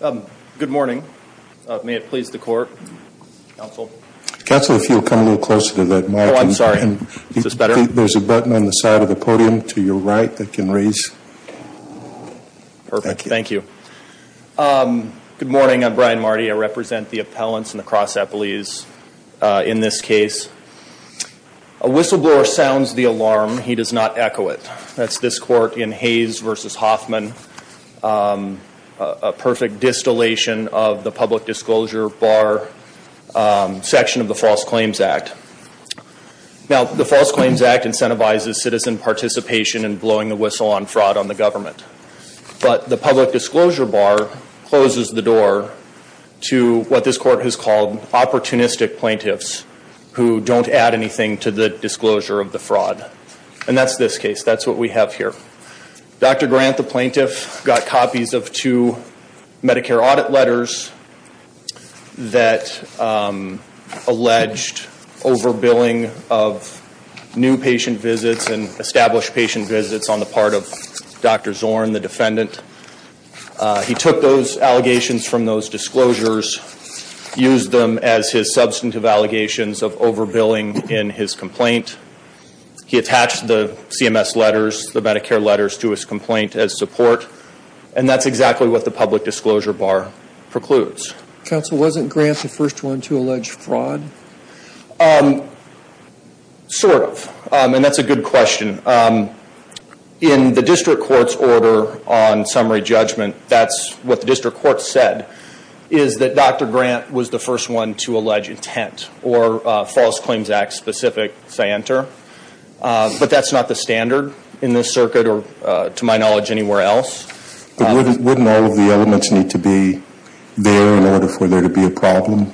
Good morning, may it please the court Council if you'll come a little closer to that. No, I'm sorry And this is better. There's a button on the side of the podium to your right that can raise Thank you, thank you Good morning. I'm Brian Marty. I represent the appellants and the cross at Belize in this case a Whistleblower sounds the alarm. He does not echo it. That's this court in Hayes versus Hoffman Perfect distillation of the public disclosure bar section of the False Claims Act Now the False Claims Act incentivizes citizen participation and blowing the whistle on fraud on the government But the public disclosure bar closes the door To what this court has called Opportunistic plaintiffs who don't add anything to the disclosure of the fraud and that's this case. That's what we have here Dr. Grant the plaintiff got copies of two Medicare audit letters that Alleged overbilling of New patient visits and established patient visits on the part of dr. Zorn the defendant He took those allegations from those disclosures Used them as his substantive allegations of overbilling in his complaint He attached the CMS letters the Medicare letters to his complaint as support and that's exactly what the public disclosure bar precludes Counsel wasn't grant the first one to allege fraud Sort of and that's a good question In the district courts order on summary judgment, that's what the district court said is that dr Grant was the first one to allege intent or False Claims Act specific say enter But that's not the standard in this circuit or to my knowledge anywhere else Wouldn't all of the elements need to be there in order for there to be a problem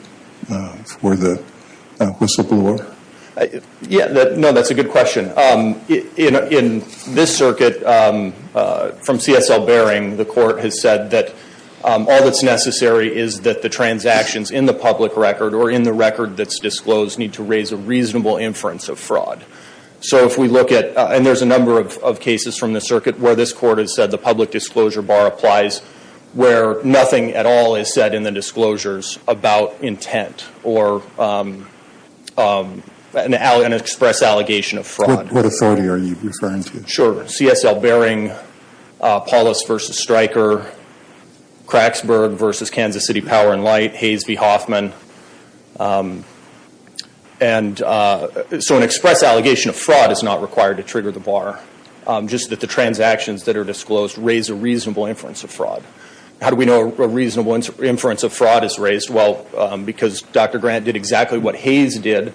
for the whistleblower Yeah, no, that's a good question You know in this circuit From CSL bearing the court has said that All that's necessary is that the transactions in the public record or in the record that's disclosed need to raise a reasonable inference of fraud So if we look at and there's a number of cases from the circuit where this court has said the public disclosure bar applies where nothing at all is said in the disclosures about intent or An ally an express allegation of fraud what authority are you referring to sure CSL bearing polis versus striker Cracks burg versus Kansas City Power and Light Hayes v Hoffman and So an express allegation of fraud is not required to trigger the bar Just that the transactions that are disclosed raise a reasonable inference of fraud. How do we know a reasonable inference of fraud is raised? Well, because dr. Grant did exactly what Hayes did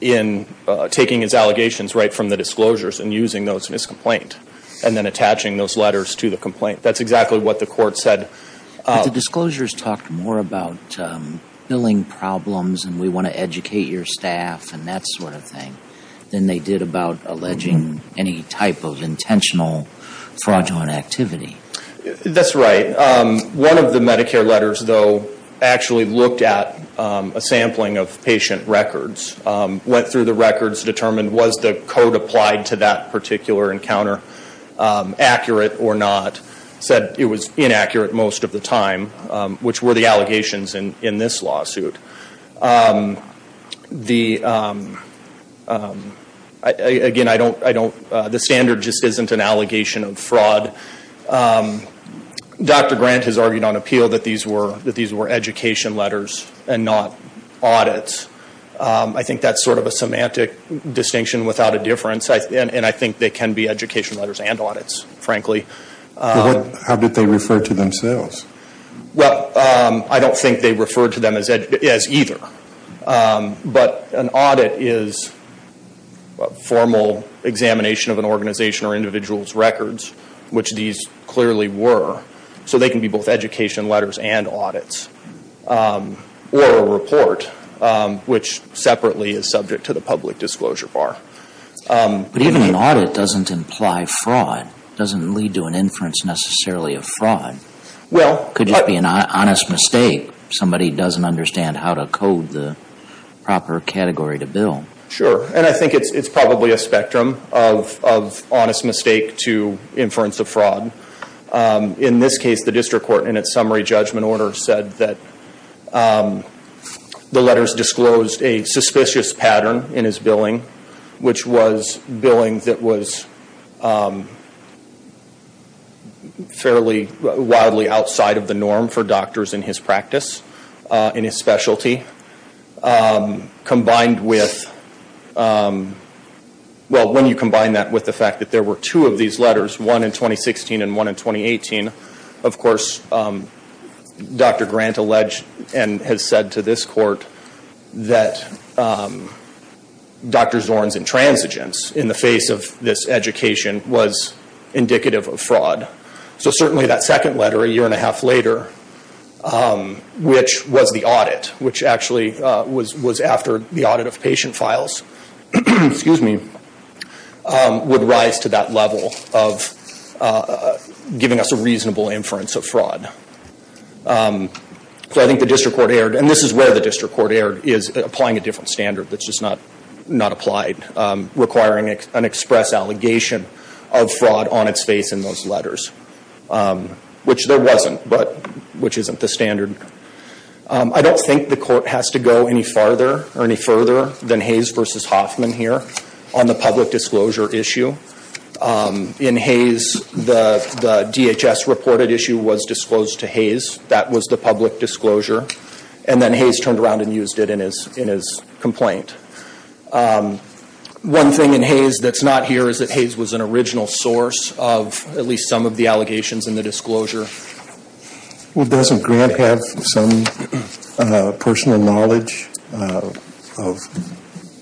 In Taking his allegations right from the disclosures and using those in his complaint and then attaching those letters to the complaint That's exactly what the court said disclosures talked more about Filling problems and we want to educate your staff and that sort of thing then they did about alleging any type of intentional fraudulent activity That's right One of the Medicare letters though actually looked at a sampling of patient records Went through the records determined was the code applied to that particular encounter Accurate or not said it was inaccurate most of the time which were the allegations in in this lawsuit The Again I don't I don't the standard just isn't an allegation of fraud Dr. Grant has argued on appeal that these were that these were education letters and not audits I think that's sort of a semantic distinction without a difference and I think they can be education letters and audits frankly How did they refer to themselves? Well, I don't think they referred to them as ed as either but an audit is Formal examination of an organization or individuals records which these clearly were So they can be both education letters and audits or a report Which separately is subject to the public disclosure bar? But even an audit doesn't imply fraud doesn't lead to an inference necessarily of fraud Well, could you be an honest mistake? Somebody doesn't understand how to code the Probably a spectrum of honest mistake to inference of fraud in this case the district court in its summary judgment order said that The letters disclosed a suspicious pattern in his billing which was billing that was Fairly wildly outside of the norm for doctors in his practice in his specialty Combined with Well when you combine that with the fact that there were two of these letters one in 2016 and one in 2018, of course Dr. Grant alleged and has said to this court that Dr. Zorn's intransigence in the face of this education was Indicative of fraud. So certainly that second letter a year and a half later Which was the audit which actually was was after the audit of patient files Excuse me would rise to that level of Giving us a reasonable inference of fraud So I think the district court aired and this is where the district court aired is applying a different standard that's just not not applied Requiring an express allegation of fraud on its face in those letters Which there wasn't but which isn't the standard? I don't think the court has to go any farther or any further than Hayes versus Hoffman here on the public disclosure issue in Hayes the DHS reported issue was disclosed to Hayes that was the public disclosure and then Hayes turned around and used it in his in his complaint One thing in Hayes that's not here is that Hayes was an original source of at least some of the allegations in the disclosure Well doesn't grant have some personal knowledge of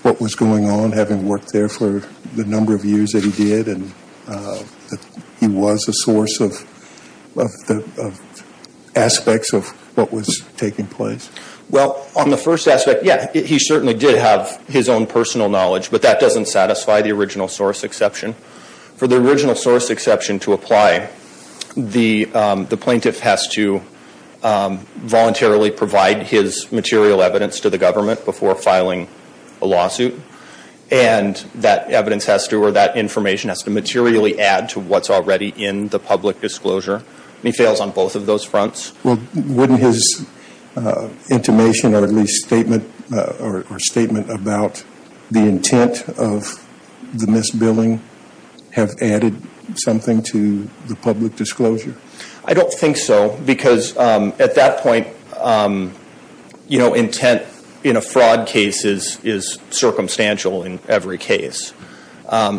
what was going on having worked there for the number of years that he did and he was a source of Aspects of what was taking place? Well on the first aspect Yeah, he certainly did have his own personal knowledge, but that doesn't satisfy the original source exception for the original source exception to apply The the plaintiff has to Voluntarily provide his material evidence to the government before filing a lawsuit and That evidence has to or that information has to materially add to what's already in the public disclosure He fails on both of those fronts. Well wouldn't his Intimation or at least statement or statement about the intent of The misbilling Have added something to the public disclosure. I don't think so because at that point You know intent in a fraud case is is circumstantial in every case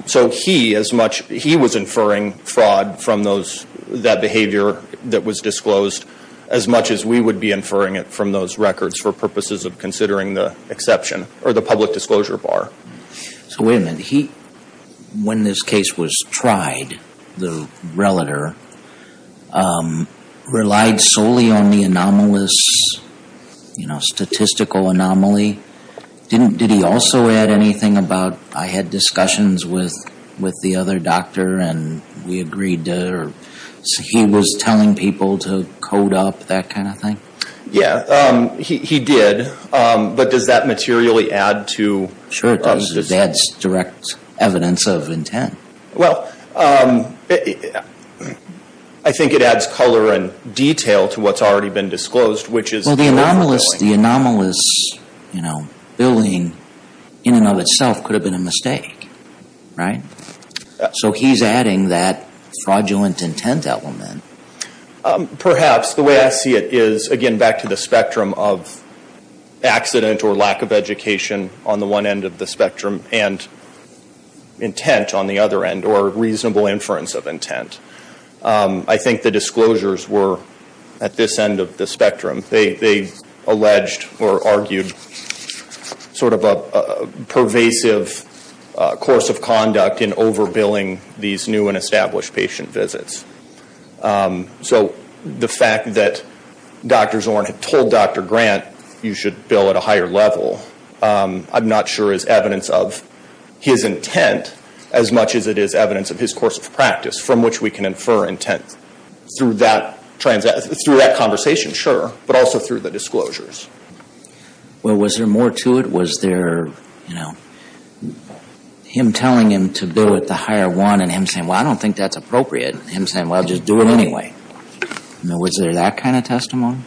So he as much he was inferring fraud from those that behavior that was disclosed as much as we would be Inferring it from those records for purposes of considering the exception or the public disclosure bar So wait a minute he when this case was tried the relator Relied solely on the anomalous You know statistical anomaly Didn't did he also add anything about I had discussions with with the other doctor and we agreed He was telling people to code up that kind of thing. Yeah, he did But does that materially add to sure that's direct evidence of intent well I Think it adds color and detail to what's already been disclosed, which is the anomalous the anomalous You know billing in and of itself could have been a mistake right So he's adding that fraudulent intent element perhaps the way I see it is again back to the spectrum of accident or lack of education on the one end of the spectrum and Intent on the other end or reasonable inference of intent I think the disclosures were at this end of the spectrum. They they alleged or argued sort of a pervasive course of conduct in over billing these new and established patient visits so the fact that Dr.. Zorn had told dr. Grant. You should bill at a higher level I'm not sure is evidence of His intent as much as it is evidence of his course of practice from which we can infer intent Through that transit through that conversation sure, but also through the disclosures Well was there more to it was there you know? Him telling him to do it the higher one and him saying well. I don't think that's appropriate him saying well Just do it anyway Now was there that kind of testimony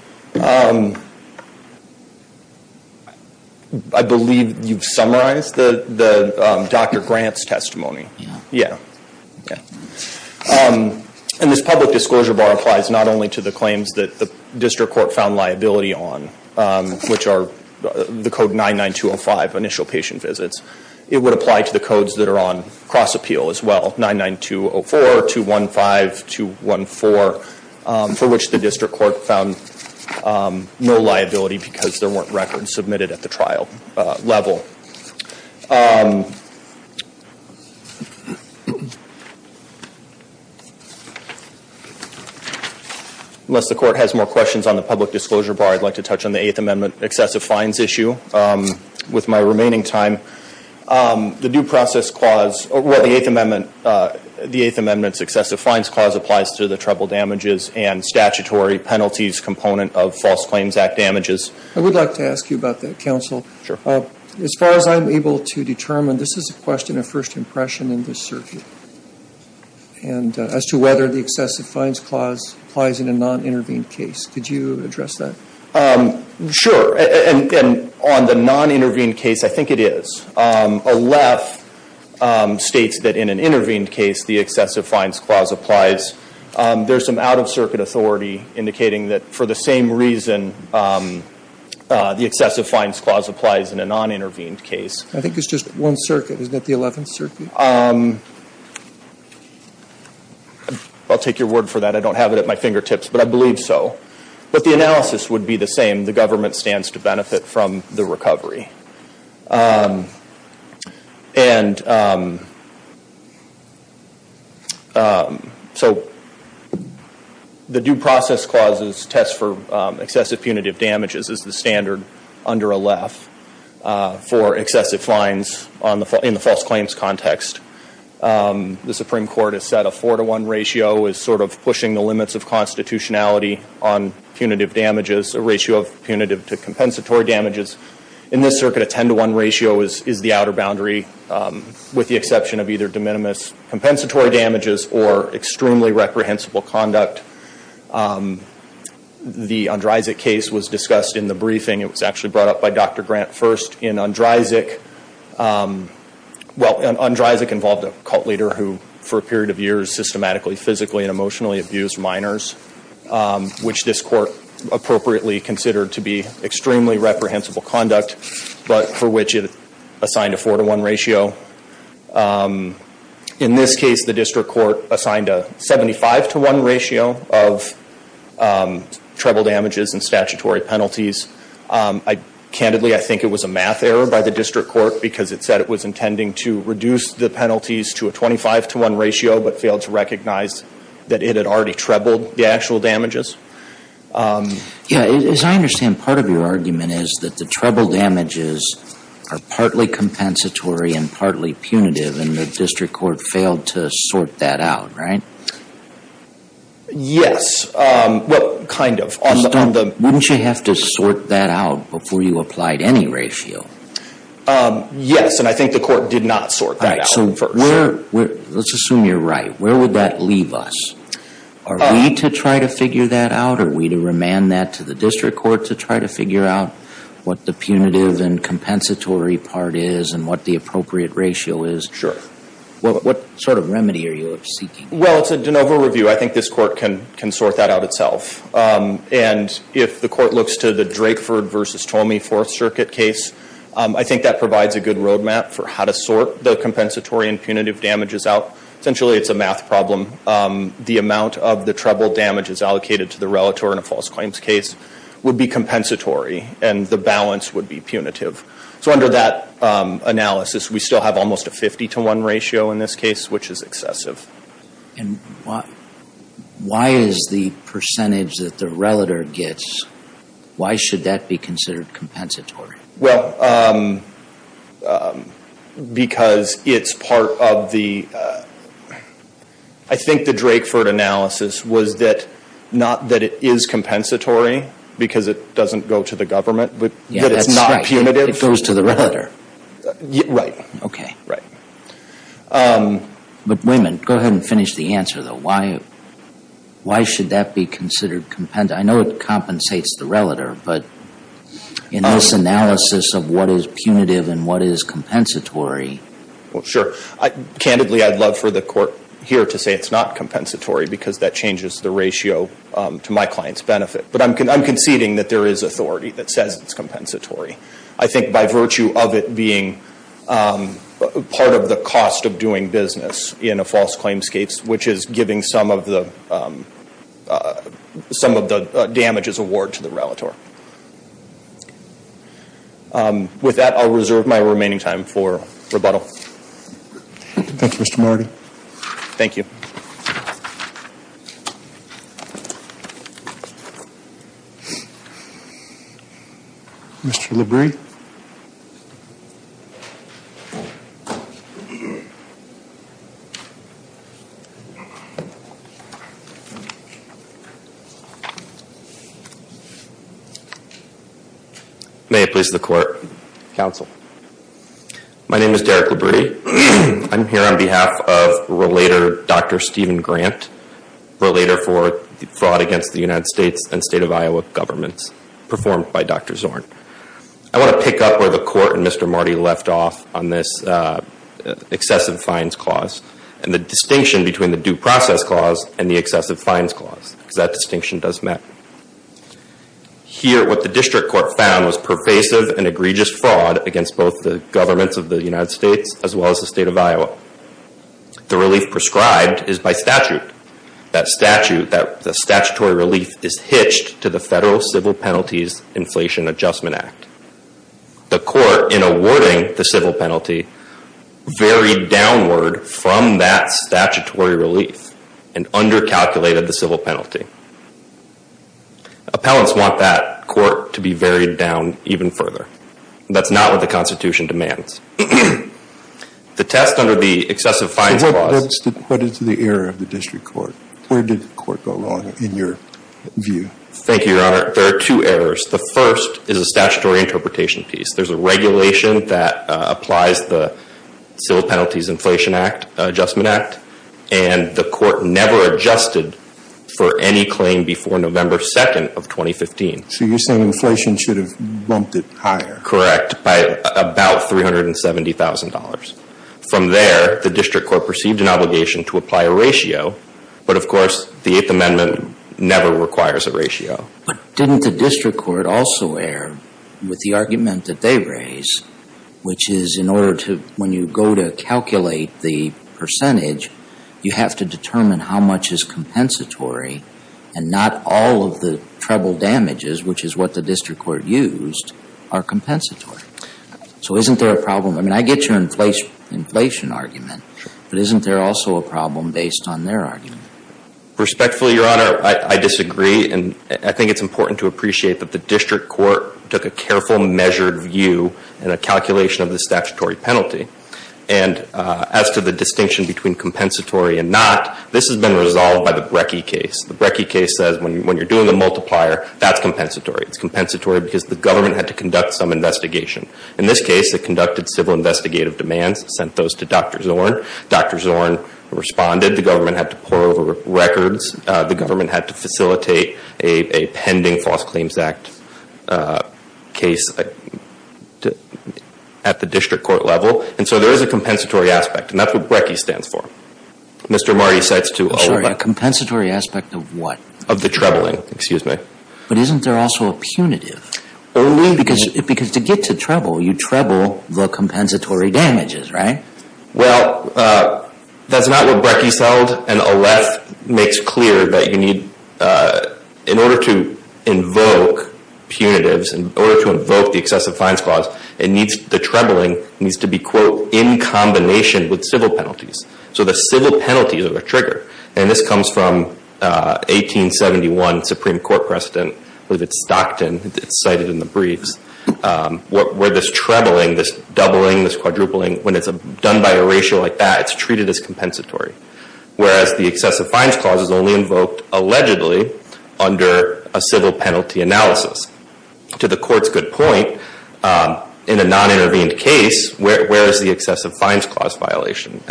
I believe you've summarized the the dr. Grant's testimony. Yeah, yeah And this public disclosure bar applies not only to the claims that the district court found liability on Which are the code 99205 initial patient visits it would apply to the codes that are on cross-appeal as well 99204 215 214 For which the district court found no liability because there weren't records submitted at the trial level Unless the court has more questions on the public disclosure bar. I'd like to touch on the Eighth Amendment excessive fines issue with my remaining time The due process clause or what the Eighth Amendment The Eighth Amendment successive fines clause applies to the treble damages and statutory penalties component of False Claims Act damages I would like to ask you about that counsel as far as I'm able to determine this is a question of first impression in this circuit and As to whether the excessive fines clause applies in a non-intervened case. Did you address that? Sure, and on the non-intervened case. I think it is Aleph States that in an intervened case the excessive fines clause applies There's some out-of-circuit authority indicating that for the same reason The excessive fines clause applies in a non-intervened case. I think it's just one circuit. Isn't it the 11th circuit? I'll take your word for that I don't have it at my fingertips, but I believe so but the analysis would be the same the government stands to benefit from the recovery And So The due process clauses test for excessive punitive damages is the standard under Aleph For excessive fines on the in the false claims context The Supreme Court has set a four to one ratio is sort of pushing the limits of constitutionality on Punitive damages a ratio of punitive to compensatory damages in this circuit a ten-to-one ratio is is the outer boundary With the exception of either de minimis compensatory damages or extremely reprehensible conduct The Andrzejczyk case was discussed in the briefing it was actually brought up by dr. Grant first in Andrzejczyk Well Andrzejczyk involved a cult leader who for a period of years systematically physically and emotionally abused minors Which this court appropriately considered to be extremely reprehensible conduct, but for which it assigned a four-to-one ratio In this case the district court assigned a 75 to 1 ratio of Treble damages and statutory penalties I Candidly, I think it was a math error by the district court because it said it was intending to reduce the penalties to a 25 To 1 ratio, but failed to recognize that it had already trebled the actual damages Yeah, as I understand part of your argument is that the treble damages are partly Compensatory and partly punitive and the district court failed to sort that out, right? Yes, well kind of on the wouldn't you have to sort that out before you applied any ratio Yes, and I think the court did not sort that out first. Let's assume you're right, where would that leave us? Are we to try to figure that out or we to remand that to the district court to try to figure out? What the punitive and compensatory part is and what the appropriate ratio is. Sure. Well, what sort of remedy are you seeking? Well, it's a de novo review. I think this court can can sort that out itself And if the court looks to the Drakeford versus Tomei Fourth Circuit case I think that provides a good roadmap for how to sort the compensatory and punitive damages out. Essentially. It's a math problem The amount of the treble damage is allocated to the relator in a false claims case Would be compensatory and the balance would be punitive. So under that Analysis, we still have almost a 50 to 1 ratio in this case, which is excessive and why? Why is the percentage that the relator gets? Why should that be considered compensatory? Well Because it's part of the I Think the Drakeford analysis was that not that it is compensatory Because it doesn't go to the government, but yeah, that's not punitive. It goes to the relator Right. Okay, right But women go ahead and finish the answer though why Why should that be considered compendium, I know it compensates the relator but In this analysis of what is punitive and what is compensatory? Well, sure Candidly, I'd love for the court here to say it's not compensatory because that changes the ratio to my clients benefit But I'm conceding that there is authority that says it's compensatory. I think by virtue of it being Part of the cost of doing business in a false claims case, which is giving some of the Some of the damages award to the relator With that I'll reserve my remaining time for rebuttal. Thank you. Mr. Marty. Thank you Mr. Libri Thank you May it please the court counsel My name is Derek Liberty. I'm here on behalf of Relator, dr. Steven Grant Relator for fraud against the United States and state of Iowa governments performed by dr. Zorn. I want to pick up where the court and mr Marty left off on this Excessive fines clause and the distinction between the due process clause and the excessive fines clause because that distinction does matter Here what the district court found was pervasive and egregious fraud against both the governments of the United States as well as the state of Iowa The relief prescribed is by statute that statute that the statutory relief is hitched to the federal civil penalties inflation Adjustment Act The court in awarding the civil penalty varied downward from that statutory relief and under-calculated the civil penalty Appellants want that court to be varied down even further. That's not what the Constitution demands The test under the excessive fines was what is the error of the district court? Where did the court go wrong in your? Thank you, your honor, there are two errors. The first is a statutory interpretation piece. There's a regulation that applies the civil penalties Inflation Act Adjustment Act and The court never adjusted for any claim before November 2nd of 2015 So you're saying inflation should have bumped it higher correct by about three hundred and seventy thousand dollars From there the district court perceived an obligation to apply a ratio But of course the Eighth Amendment never requires a ratio But didn't the district court also err with the argument that they raise? which is in order to when you go to calculate the Percentage you have to determine how much is compensatory and not all of the trouble damages Which is what the district court used are compensatory So, isn't there a problem I mean I get your in place inflation argument, but isn't there also a problem based on their argument Respectfully your honor I disagree and I think it's important to appreciate that the district court took a careful measured view and a calculation of the statutory penalty and As to the distinction between compensatory and not this has been resolved by the brecci case the brecci case says when you when you're doing A multiplier that's compensatory. It's compensatory because the government had to conduct some investigation in this case They conducted civil investigative demands sent those to dr. Zorn. Dr. Zorn Responded the government had to pour over records. The government had to facilitate a pending False Claims Act case At the district court level and so there is a compensatory aspect and that's what brecci stands for Mr. Marty sets to a compensatory aspect of what of the troubling excuse me, but isn't there also a punitive? Only because it because to get to trouble you treble the compensatory damages, right? Well That's not what brecci sold and a left makes clear that you need in order to invoke Punitives in order to invoke the excessive fine squads. It needs the troubling needs to be quote in Combination with civil penalties. So the civil penalties of a trigger and this comes from 1871 Supreme Court precedent with its Stockton. It's cited in the briefs What were this troubling this doubling this quadrupling when it's a done by a ratio like that. It's treated as compensatory Whereas the excessive fines clause is only invoked allegedly under a civil penalty analysis to the court's good point In a non-intervened case, where is the excessive fines clause violation?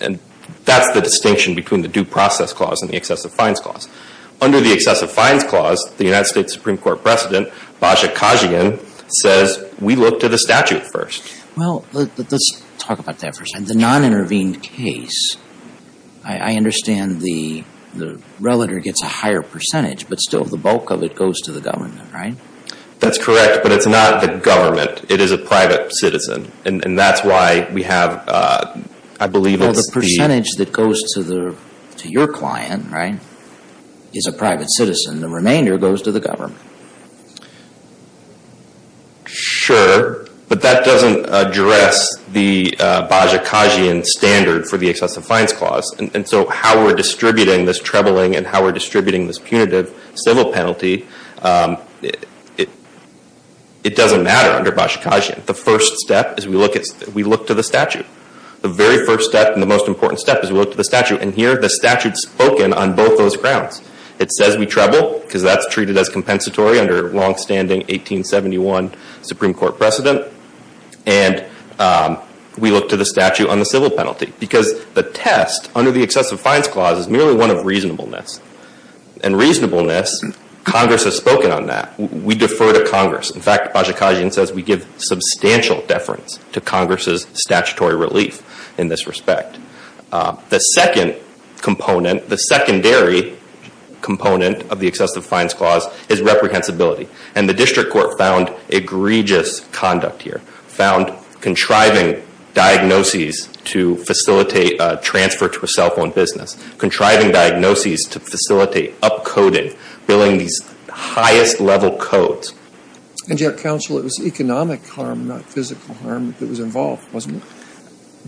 and That's the distinction between the due process clause and the excessive fines clause Under the excessive fines clause the United States Supreme Court precedent Baja Kajian says we look to the statute first. Well, let's talk about that first and the non-intervened case. I Understand the the relator gets a higher percentage, but still the bulk of it goes to the government, right? That's correct But it's not the government. It is a private citizen. And that's why we have I believe Well the percentage that goes to the to your client, right? Is a private citizen. The remainder goes to the government Sure, but that doesn't address the Baja, Kajian standard for the excessive fines clause and so how we're distributing this troubling and how we're distributing this punitive civil penalty it It doesn't matter under Baja Kajian the first step is we look at we look to the statute the very first step and the most important step is we look to The statute and here the statute spoken on both those grounds it says we treble because that's treated as compensatory under long-standing 1871 Supreme Court precedent and We look to the statute on the civil penalty because the test under the excessive fines clause is merely one of reasonableness and reasonableness Congress has spoken on that we defer to Congress In fact Baja Kajian says we give substantial deference to Congress's statutory relief in this respect the second component the secondary Component of the excessive fines clause is reprehensibility and the district court found egregious conduct here found contriving diagnoses to facilitate transfer to a cell phone business Contribing diagnoses to facilitate up coding billing these highest level codes And yet counsel it was economic harm not physical harm that was involved wasn't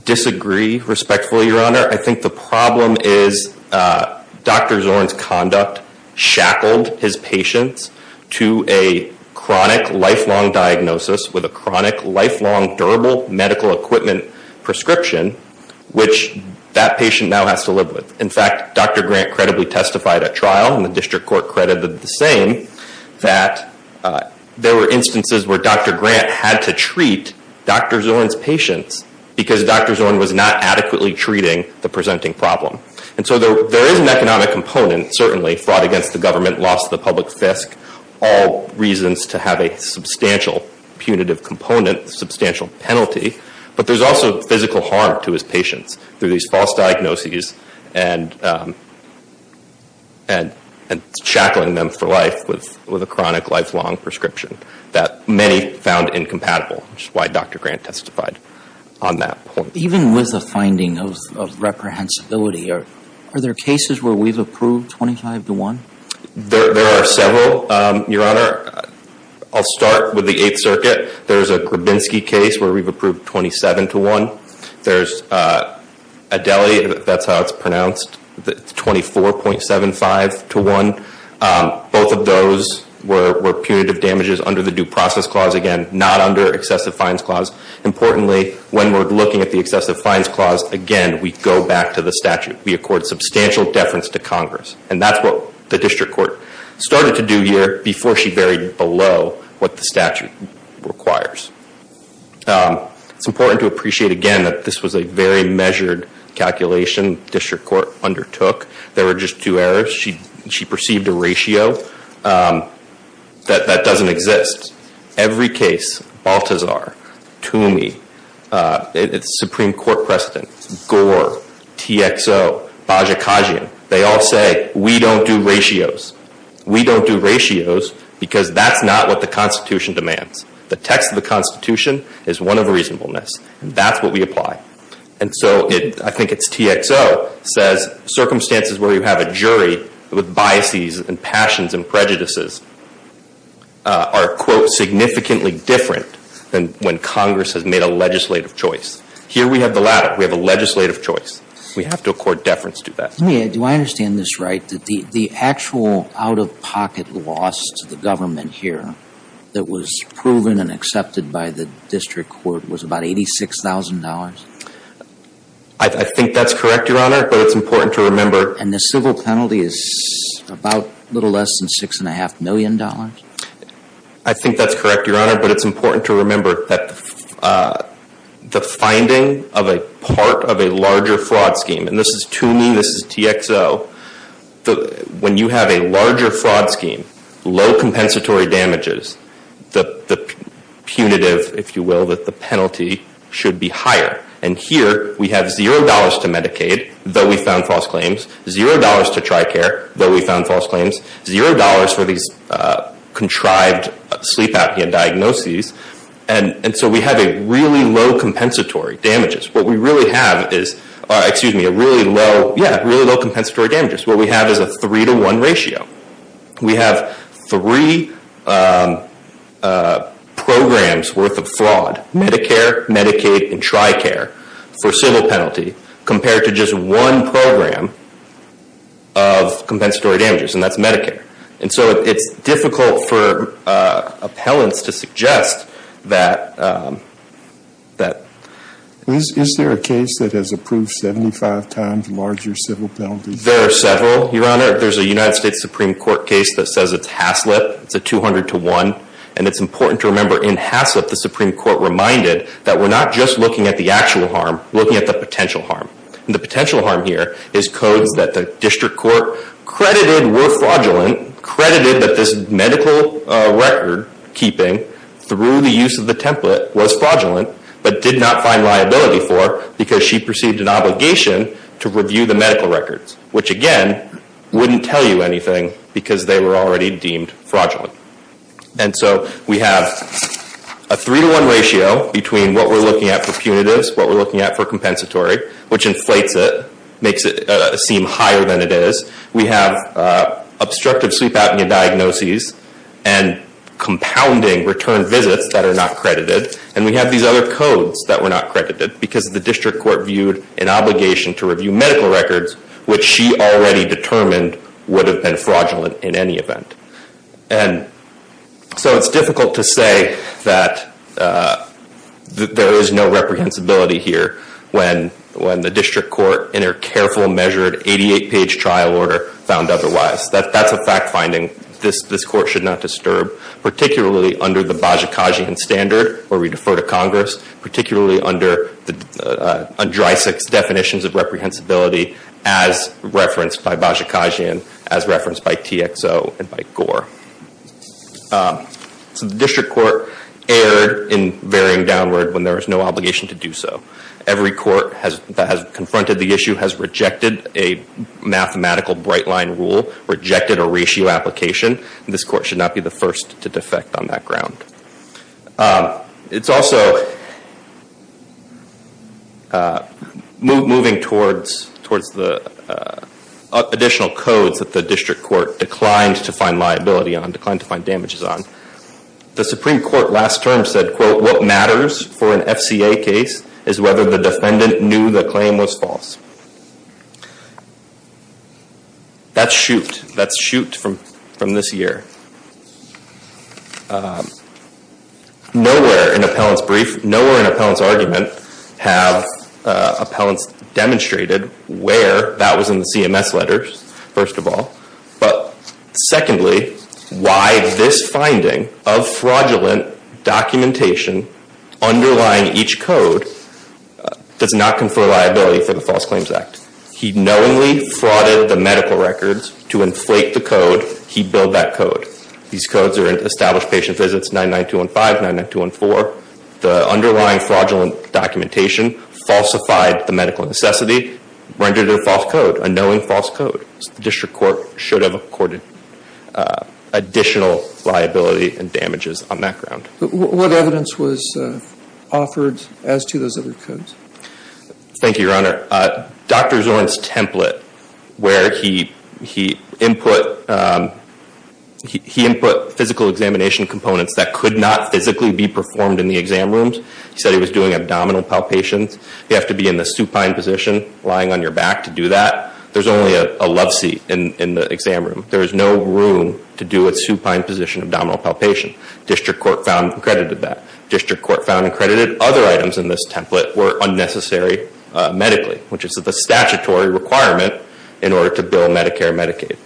Disagree respectfully your honor. I think the problem is Dr. Zorn's conduct shackled his patients to a Chronic lifelong diagnosis with a chronic lifelong durable medical equipment Prescription which that patient now has to live with. In fact, dr. Grant credibly testified at trial and the district court credited the same that There were instances where dr. Grant had to treat Dr. Zorn's patients because dr. Zorn was not adequately treating the presenting problem And so there is an economic component certainly fraud against the government lost the public fisc all reasons to have a substantial Punitive component substantial penalty, but there's also physical harm to his patients through these false diagnoses and And Shackling them for life with with a chronic lifelong prescription that many found incompatible Which is why dr. Grant testified on that point even with the finding of Reprehensibility or are there cases where we've approved 25 to 1 there are several your honor I'll start with the 8th Circuit. There's a Grabinski case where we've approved 27 to 1. There's a Deli, that's how it's pronounced the 24.75 to 1 Both of those were punitive damages under the due process clause again, not under excessive fines clause Importantly when we're looking at the excessive fines clause again, we go back to the statute We accord substantial deference to Congress and that's what the district court Started to do here before she buried below what the statute requires It's important to appreciate again that this was a very measured Calculation district court undertook there were just two errors. She she perceived a ratio That that doesn't exist every case Baltazar to me It's Supreme Court precedent gore TXO Bajajan, they all say we don't do ratios We don't do ratios because that's not what the Constitution demands the text of the Constitution is one of reasonableness and that's what we apply and so it I think it's TXO says Circumstances where you have a jury with biases and passions and prejudices Are quote significantly different than when Congress has made a legislative choice here. We have the latter We have a legislative choice. We have to accord deference to that Do I understand this right that the the actual out-of-pocket loss to the government here That was proven and accepted by the district court was about eighty six thousand dollars. I Think that's correct. Your honor, but it's important to remember and the civil penalty is About a little less than six and a half million dollars. I Think that's correct. Your honor, but it's important to remember that The finding of a part of a larger fraud scheme and this is to me this is TXO the when you have a larger fraud scheme low compensatory damages the Punitive if you will that the penalty should be higher and here we have zero dollars to Medicaid Though we found false claims zero dollars to TRICARE though. We found false claims zero dollars for these Contrived sleep apnea diagnoses and and so we have a really low compensatory damages What we really have is excuse me a really low. Yeah, really low compensatory damages. What we have is a three to one ratio We have three Programs worth of fraud Medicare Medicaid and TRICARE for civil penalty compared to just one program of Difficult for appellants to suggest that That Is there a case that has approved 75 times larger civil penalties? There are several your honor There's a United States Supreme Court case that says it's Haslip It's a 200 to 1 and it's important to remember in Haslip The Supreme Court reminded that we're not just looking at the actual harm looking at the potential harm The potential harm here is codes that the district court Credited were fraudulent credited that this medical record keeping Through the use of the template was fraudulent But did not find liability for because she perceived an obligation to review the medical records, which again Wouldn't tell you anything because they were already deemed fraudulent. And so we have a Three to one ratio between what we're looking at for punitives what we're looking at for compensatory which inflates it Seem higher than it is we have obstructive sleep apnea diagnoses and Compounding return visits that are not credited and we have these other codes that were not credited because the district court viewed an obligation to review medical records, which she already determined would have been fraudulent in any event and So it's difficult to say that There is no reprehensibility here when when the district court in their careful measured 88 page trial order found Otherwise that that's a fact-finding this this court should not disturb particularly under the Bajikasian standard where we defer to Congress particularly under the Andrisek's definitions of reprehensibility as Referenced by Bajikasian as referenced by TXO and by Gore So the district court erred in varying downward when there is no obligation to do so every court has that has confronted the issue has rejected a Mathematical bright line rule rejected a ratio application. This court should not be the first to defect on that ground It's also Moving towards towards the Additional codes that the district court declined to find liability on declined to find damages on The Supreme Court last term said quote what matters for an FCA case is whether the defendant knew the claim was false That's shoot that's shoot from from this year Nowhere in appellants brief nowhere in appellants argument have Appellants demonstrated where that was in the CMS letters first of all, but secondly why this finding of fraudulent documentation underlying each code Does not confer liability for the False Claims Act He knowingly frauded the medical records to inflate the code. He built that code These codes are in established patient visits 99215 99214 the underlying fraudulent Documentation falsified the medical necessity rendered a false code a knowing false code. The district court should have accorded Additional liability and damages on that ground. What evidence was Offered as to those other codes Thank you, Your Honor Dr. Zorn's template where he he input He input physical examination components that could not physically be performed in the exam rooms He said he was doing abdominal palpations. You have to be in the supine position lying on your back to do that There's only a loveseat in the exam room There is no room to do a supine position abdominal palpation District Court found accredited that district court found accredited other items in this template were unnecessary medically, which is the statutory requirement in order to bill Medicare Medicaid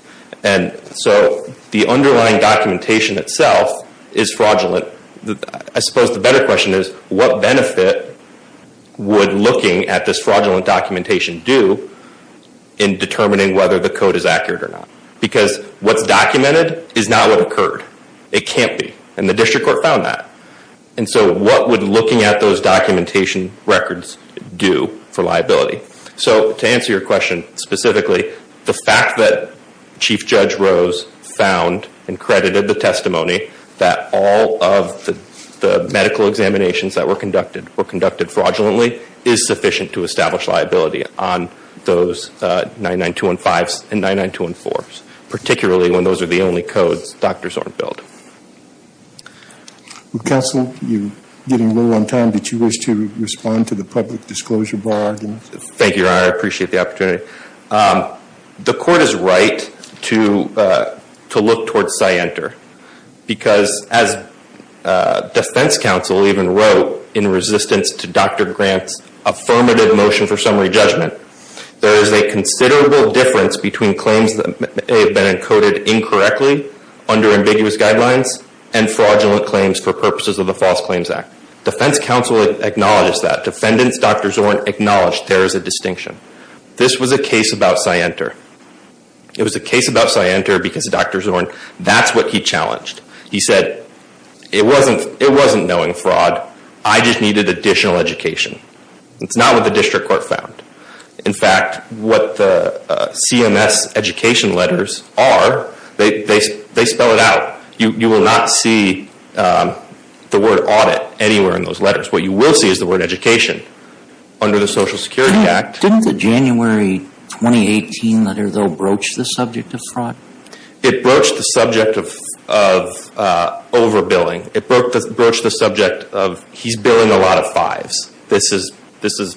and So the underlying documentation itself is fraudulent I suppose the better question is what benefit would looking at this fraudulent documentation do in Determining whether the code is accurate or not because what's documented is not what occurred It can't be and the district court found that and so what would looking at those documentation records do for liability? so to answer your question specifically the fact that The medical examinations that were conducted were conducted fraudulently is sufficient to establish liability on those 99215s and 99214s particularly when those are the only codes doctors aren't billed Counsel you getting low on time, but you wish to respond to the public disclosure bar. Thank you. I appreciate the opportunity The court is right to to look towards I enter Because as Defense counsel even wrote in resistance to dr. Grant's Affirmative motion for summary judgment. There is a considerable difference between claims that may have been encoded Incorrectly under ambiguous guidelines and fraudulent claims for purposes of the False Claims Act Defense Counsel acknowledges that defendants Dr. Zorn acknowledged there is a distinction. This was a case about cyanter It was a case about cyanter because of dr. Zorn that's what he challenged he said It wasn't it wasn't knowing fraud. I just needed additional education it's not what the district court found in fact what the CMS education letters are they they spell it out you you will not see The word audit anywhere in those letters what you will see is the word education Under the Social Security Act didn't the January 2018 letter though broach the subject of fraud it broached the subject of Overbilling it broke the broach the subject of he's billing a lot of fives. This is this is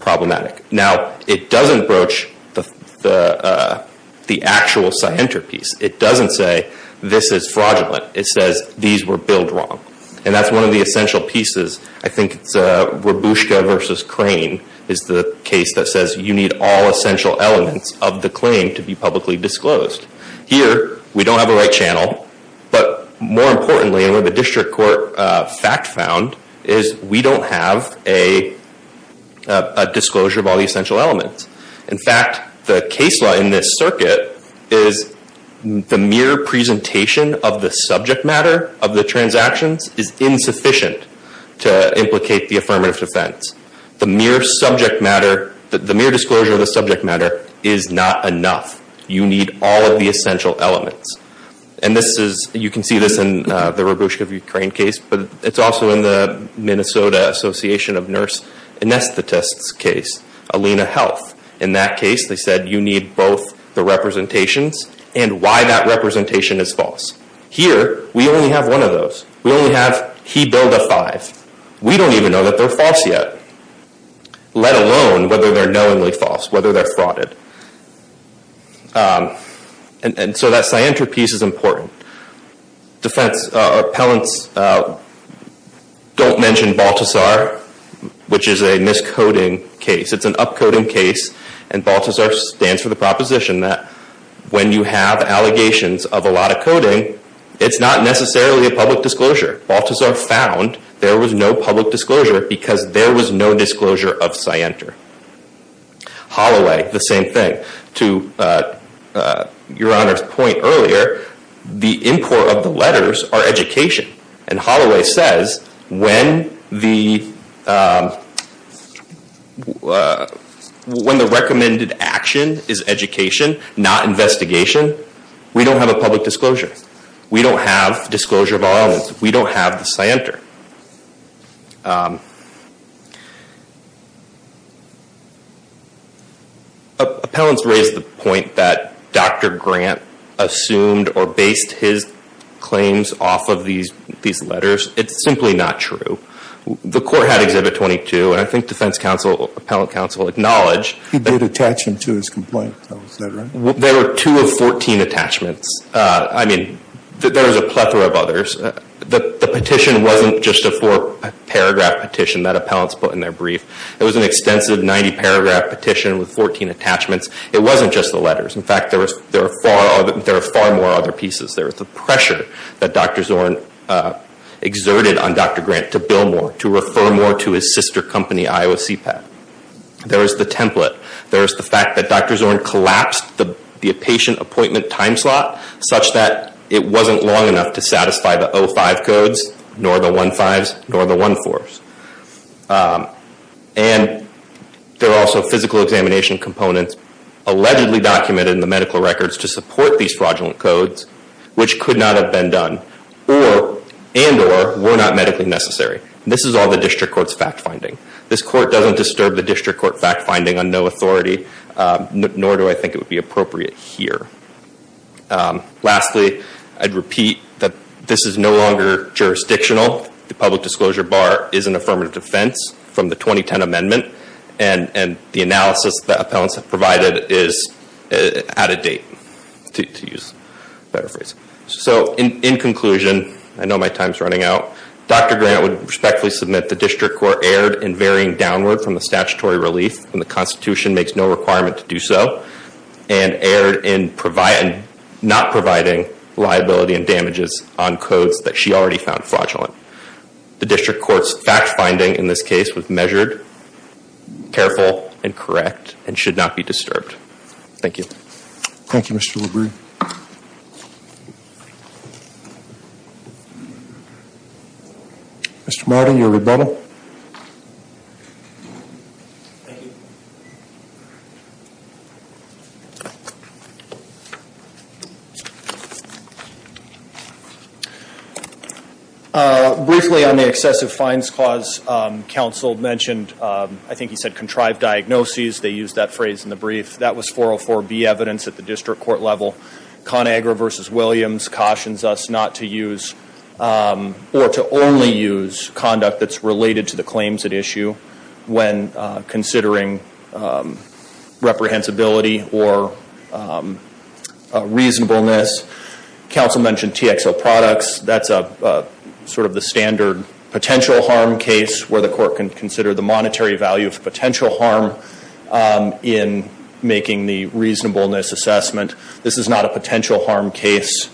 problematic now, it doesn't broach the The actual cyanter piece it doesn't say this is fraudulent It says these were billed wrong, and that's one of the essential pieces I think it's a Rebushka versus crane is the case that says you need all essential elements of the claim to be publicly disclosed Here we don't have a right channel, but more importantly and with a district court fact found is we don't have a Disclosure of all the essential elements in fact the case law in this circuit is The mere presentation of the subject matter of the transactions is Insufficient to implicate the affirmative defense the mere subject matter that the mere disclosure of the subject matter is not Enough you need all of the essential elements, and this is you can see this in the rebushka of Ukraine case But it's also in the Minnesota Association of nurse Anesthetists case Alena health in that case they said you need both the representations And why that representation is false here. We only have one of those we only have he billed a five We don't even know that they're false yet Let alone whether they're knowingly false whether they're frauded And so that cyanter piece is important defense appellants Don't mention Baltazar Which is a miscoding case? And Baltazar stands for the proposition that when you have allegations of a lot of coding It's not necessarily a public disclosure Baltazar found there was no public disclosure because there was no disclosure of cyanter Holloway the same thing to Your honor's point earlier the import of the letters are education and Holloway says when the When The recommended action is education not investigation We don't have a public disclosure. We don't have disclosure of our own. We don't have the cyanter Appellants raised the point that dr. Grant Assumed or based his claims off of these these letters. It's simply not true The court had exhibit 22 and I think defense counsel appellant counsel acknowledged he did attach him to his complaint There were two of 14 attachments. I mean, there's a plethora of others The petition wasn't just a four paragraph petition that appellants put in their brief It was an extensive 90 paragraph petition with 14 attachments. It wasn't just the letters In fact, there was there are far there are far more other pieces. There was the pressure that dr. Zorn Exerted on dr. Grant to bill more to refer more to his sister company, Iowa CPAC There is the template There is the fact that dr. Zorn collapsed the the patient appointment time slot such that it wasn't long enough to satisfy the o5 Codes nor the one fives nor the one fours and There are also physical examination components allegedly documented in the medical records to support these fraudulent codes, which could not have been done or Were not medically necessary. This is all the district courts fact-finding. This court doesn't disturb the district court fact-finding on no authority Nor do I think it would be appropriate here Lastly I'd repeat that this is no longer jurisdictional the public disclosure bar is an affirmative defense from the 2010 amendment and and the analysis that appellants have provided is Out of date to use better phrase. So in conclusion, I know my time's running out Dr Grant would respectfully submit the district court erred in varying downward from the statutory relief and the Constitution makes no requirement to do so and Erred in provide not providing liability and damages on codes that she already found fraudulent The district courts fact-finding in this case was measured Careful and correct and should not be disturbed. Thank you. Thank you. Mr. LaBrie Mr. Martin your rebuttal Thank you Briefly on the excessive fines clause Counsel mentioned I think he said contrived diagnoses. They used that phrase in the brief That was 404 be evidence at the district court level ConAgra versus Williams cautions us not to use or to only use conduct that's related to the claims at issue when considering Reprehensibility or Reasonableness Council mentioned TXO products. That's a Sort of the standard potential harm case where the court can consider the monetary value of potential harm In making the reasonableness assessment. This is not a potential harm case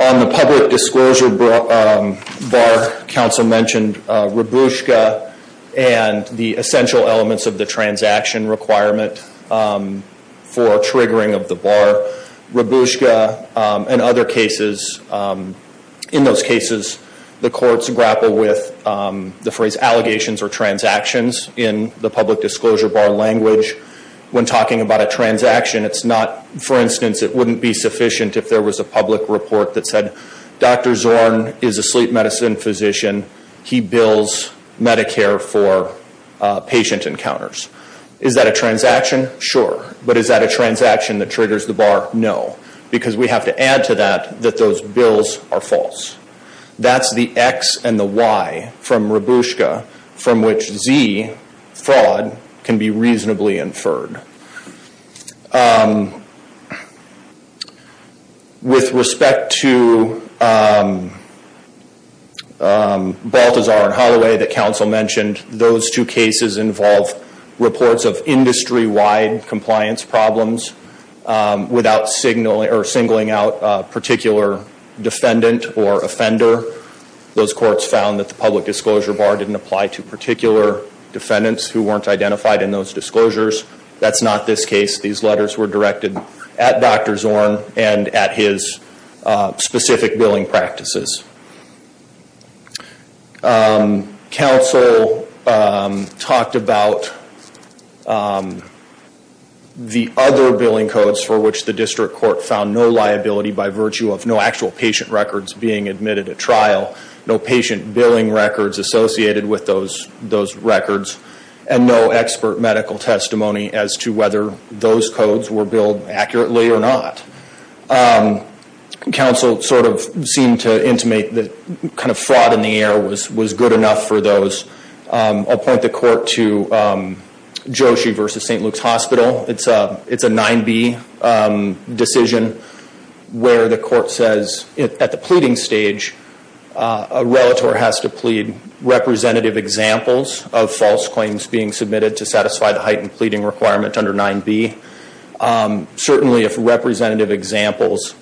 On the public disclosure bar council mentioned Rebushka and the essential elements of the transaction requirement for triggering of the bar rebushka and other cases In those cases the courts grapple with The phrase allegations or transactions in the public disclosure bar language when talking about a transaction It's not for instance. It wouldn't be sufficient if there was a public report that said dr Zorn is a sleep medicine physician. He bills Medicare for Patient encounters. Is that a transaction? Sure, but is that a transaction that triggers the bar? No, because we have to add to that that those bills are false That's the X and the Y from rebushka from which Z fraud can be reasonably inferred With respect to Baltazar and Holloway that council mentioned those two cases involve reports of industry-wide compliance problems Without signaling or singling out a particular Defendant or offender those courts found that the public disclosure bar didn't apply to particular Defendants who weren't identified in those disclosures. That's not this case. These letters were directed at dr. Zorn and at his Specific billing practices Council talked about The other billing codes for which the district court found no liability by virtue of no actual patient records being admitted at trial No patient billing records associated with those those records and no expert medical Testimony as to whether those codes were billed accurately or not And council sort of seemed to intimate that kind of fraud in the air was was good enough for those I'll point the court to Joshi versus st. Luke's Hospital. It's a it's a 9b decision Where the court says at the pleading stage a relator has to plead Representative examples of false claims being submitted to satisfy the heightened pleading requirement under 9b Certainly if representative examples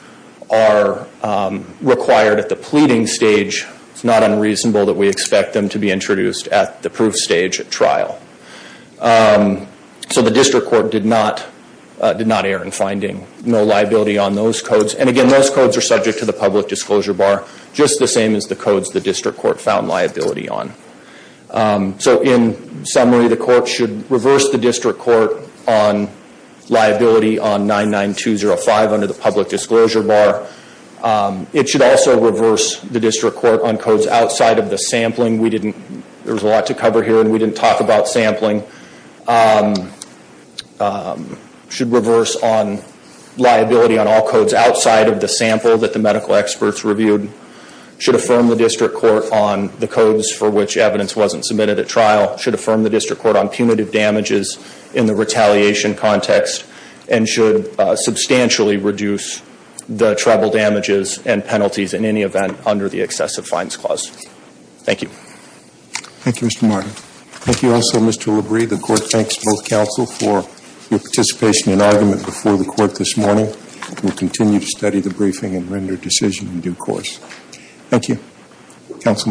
are Required at the pleading stage, it's not unreasonable that we expect them to be introduced at the proof stage at trial So the district court did not Did not err in finding no liability on those codes and again those codes are subject to the public disclosure bar Just the same as the codes the district court found liability on so in summary the court should reverse the district court on Liability on 99205 under the public disclosure bar It should also reverse the district court on codes outside of the sampling We didn't there was a lot to cover here and we didn't talk about sampling Should reverse on Liability on all codes outside of the sample that the medical experts reviewed Should affirm the district court on the codes for which evidence wasn't submitted at trial should affirm the district court on punitive damages in the retaliation context and should Substantially reduce the tribal damages and penalties in any event under the excessive fines clause. Thank you Thank You. Mr. Martin. Thank you. Also, mr. Labrie the court. Thanks both counsel for your participation in argument before the court this morning We'll continue to study the briefing and render decision in due course Thank You councilman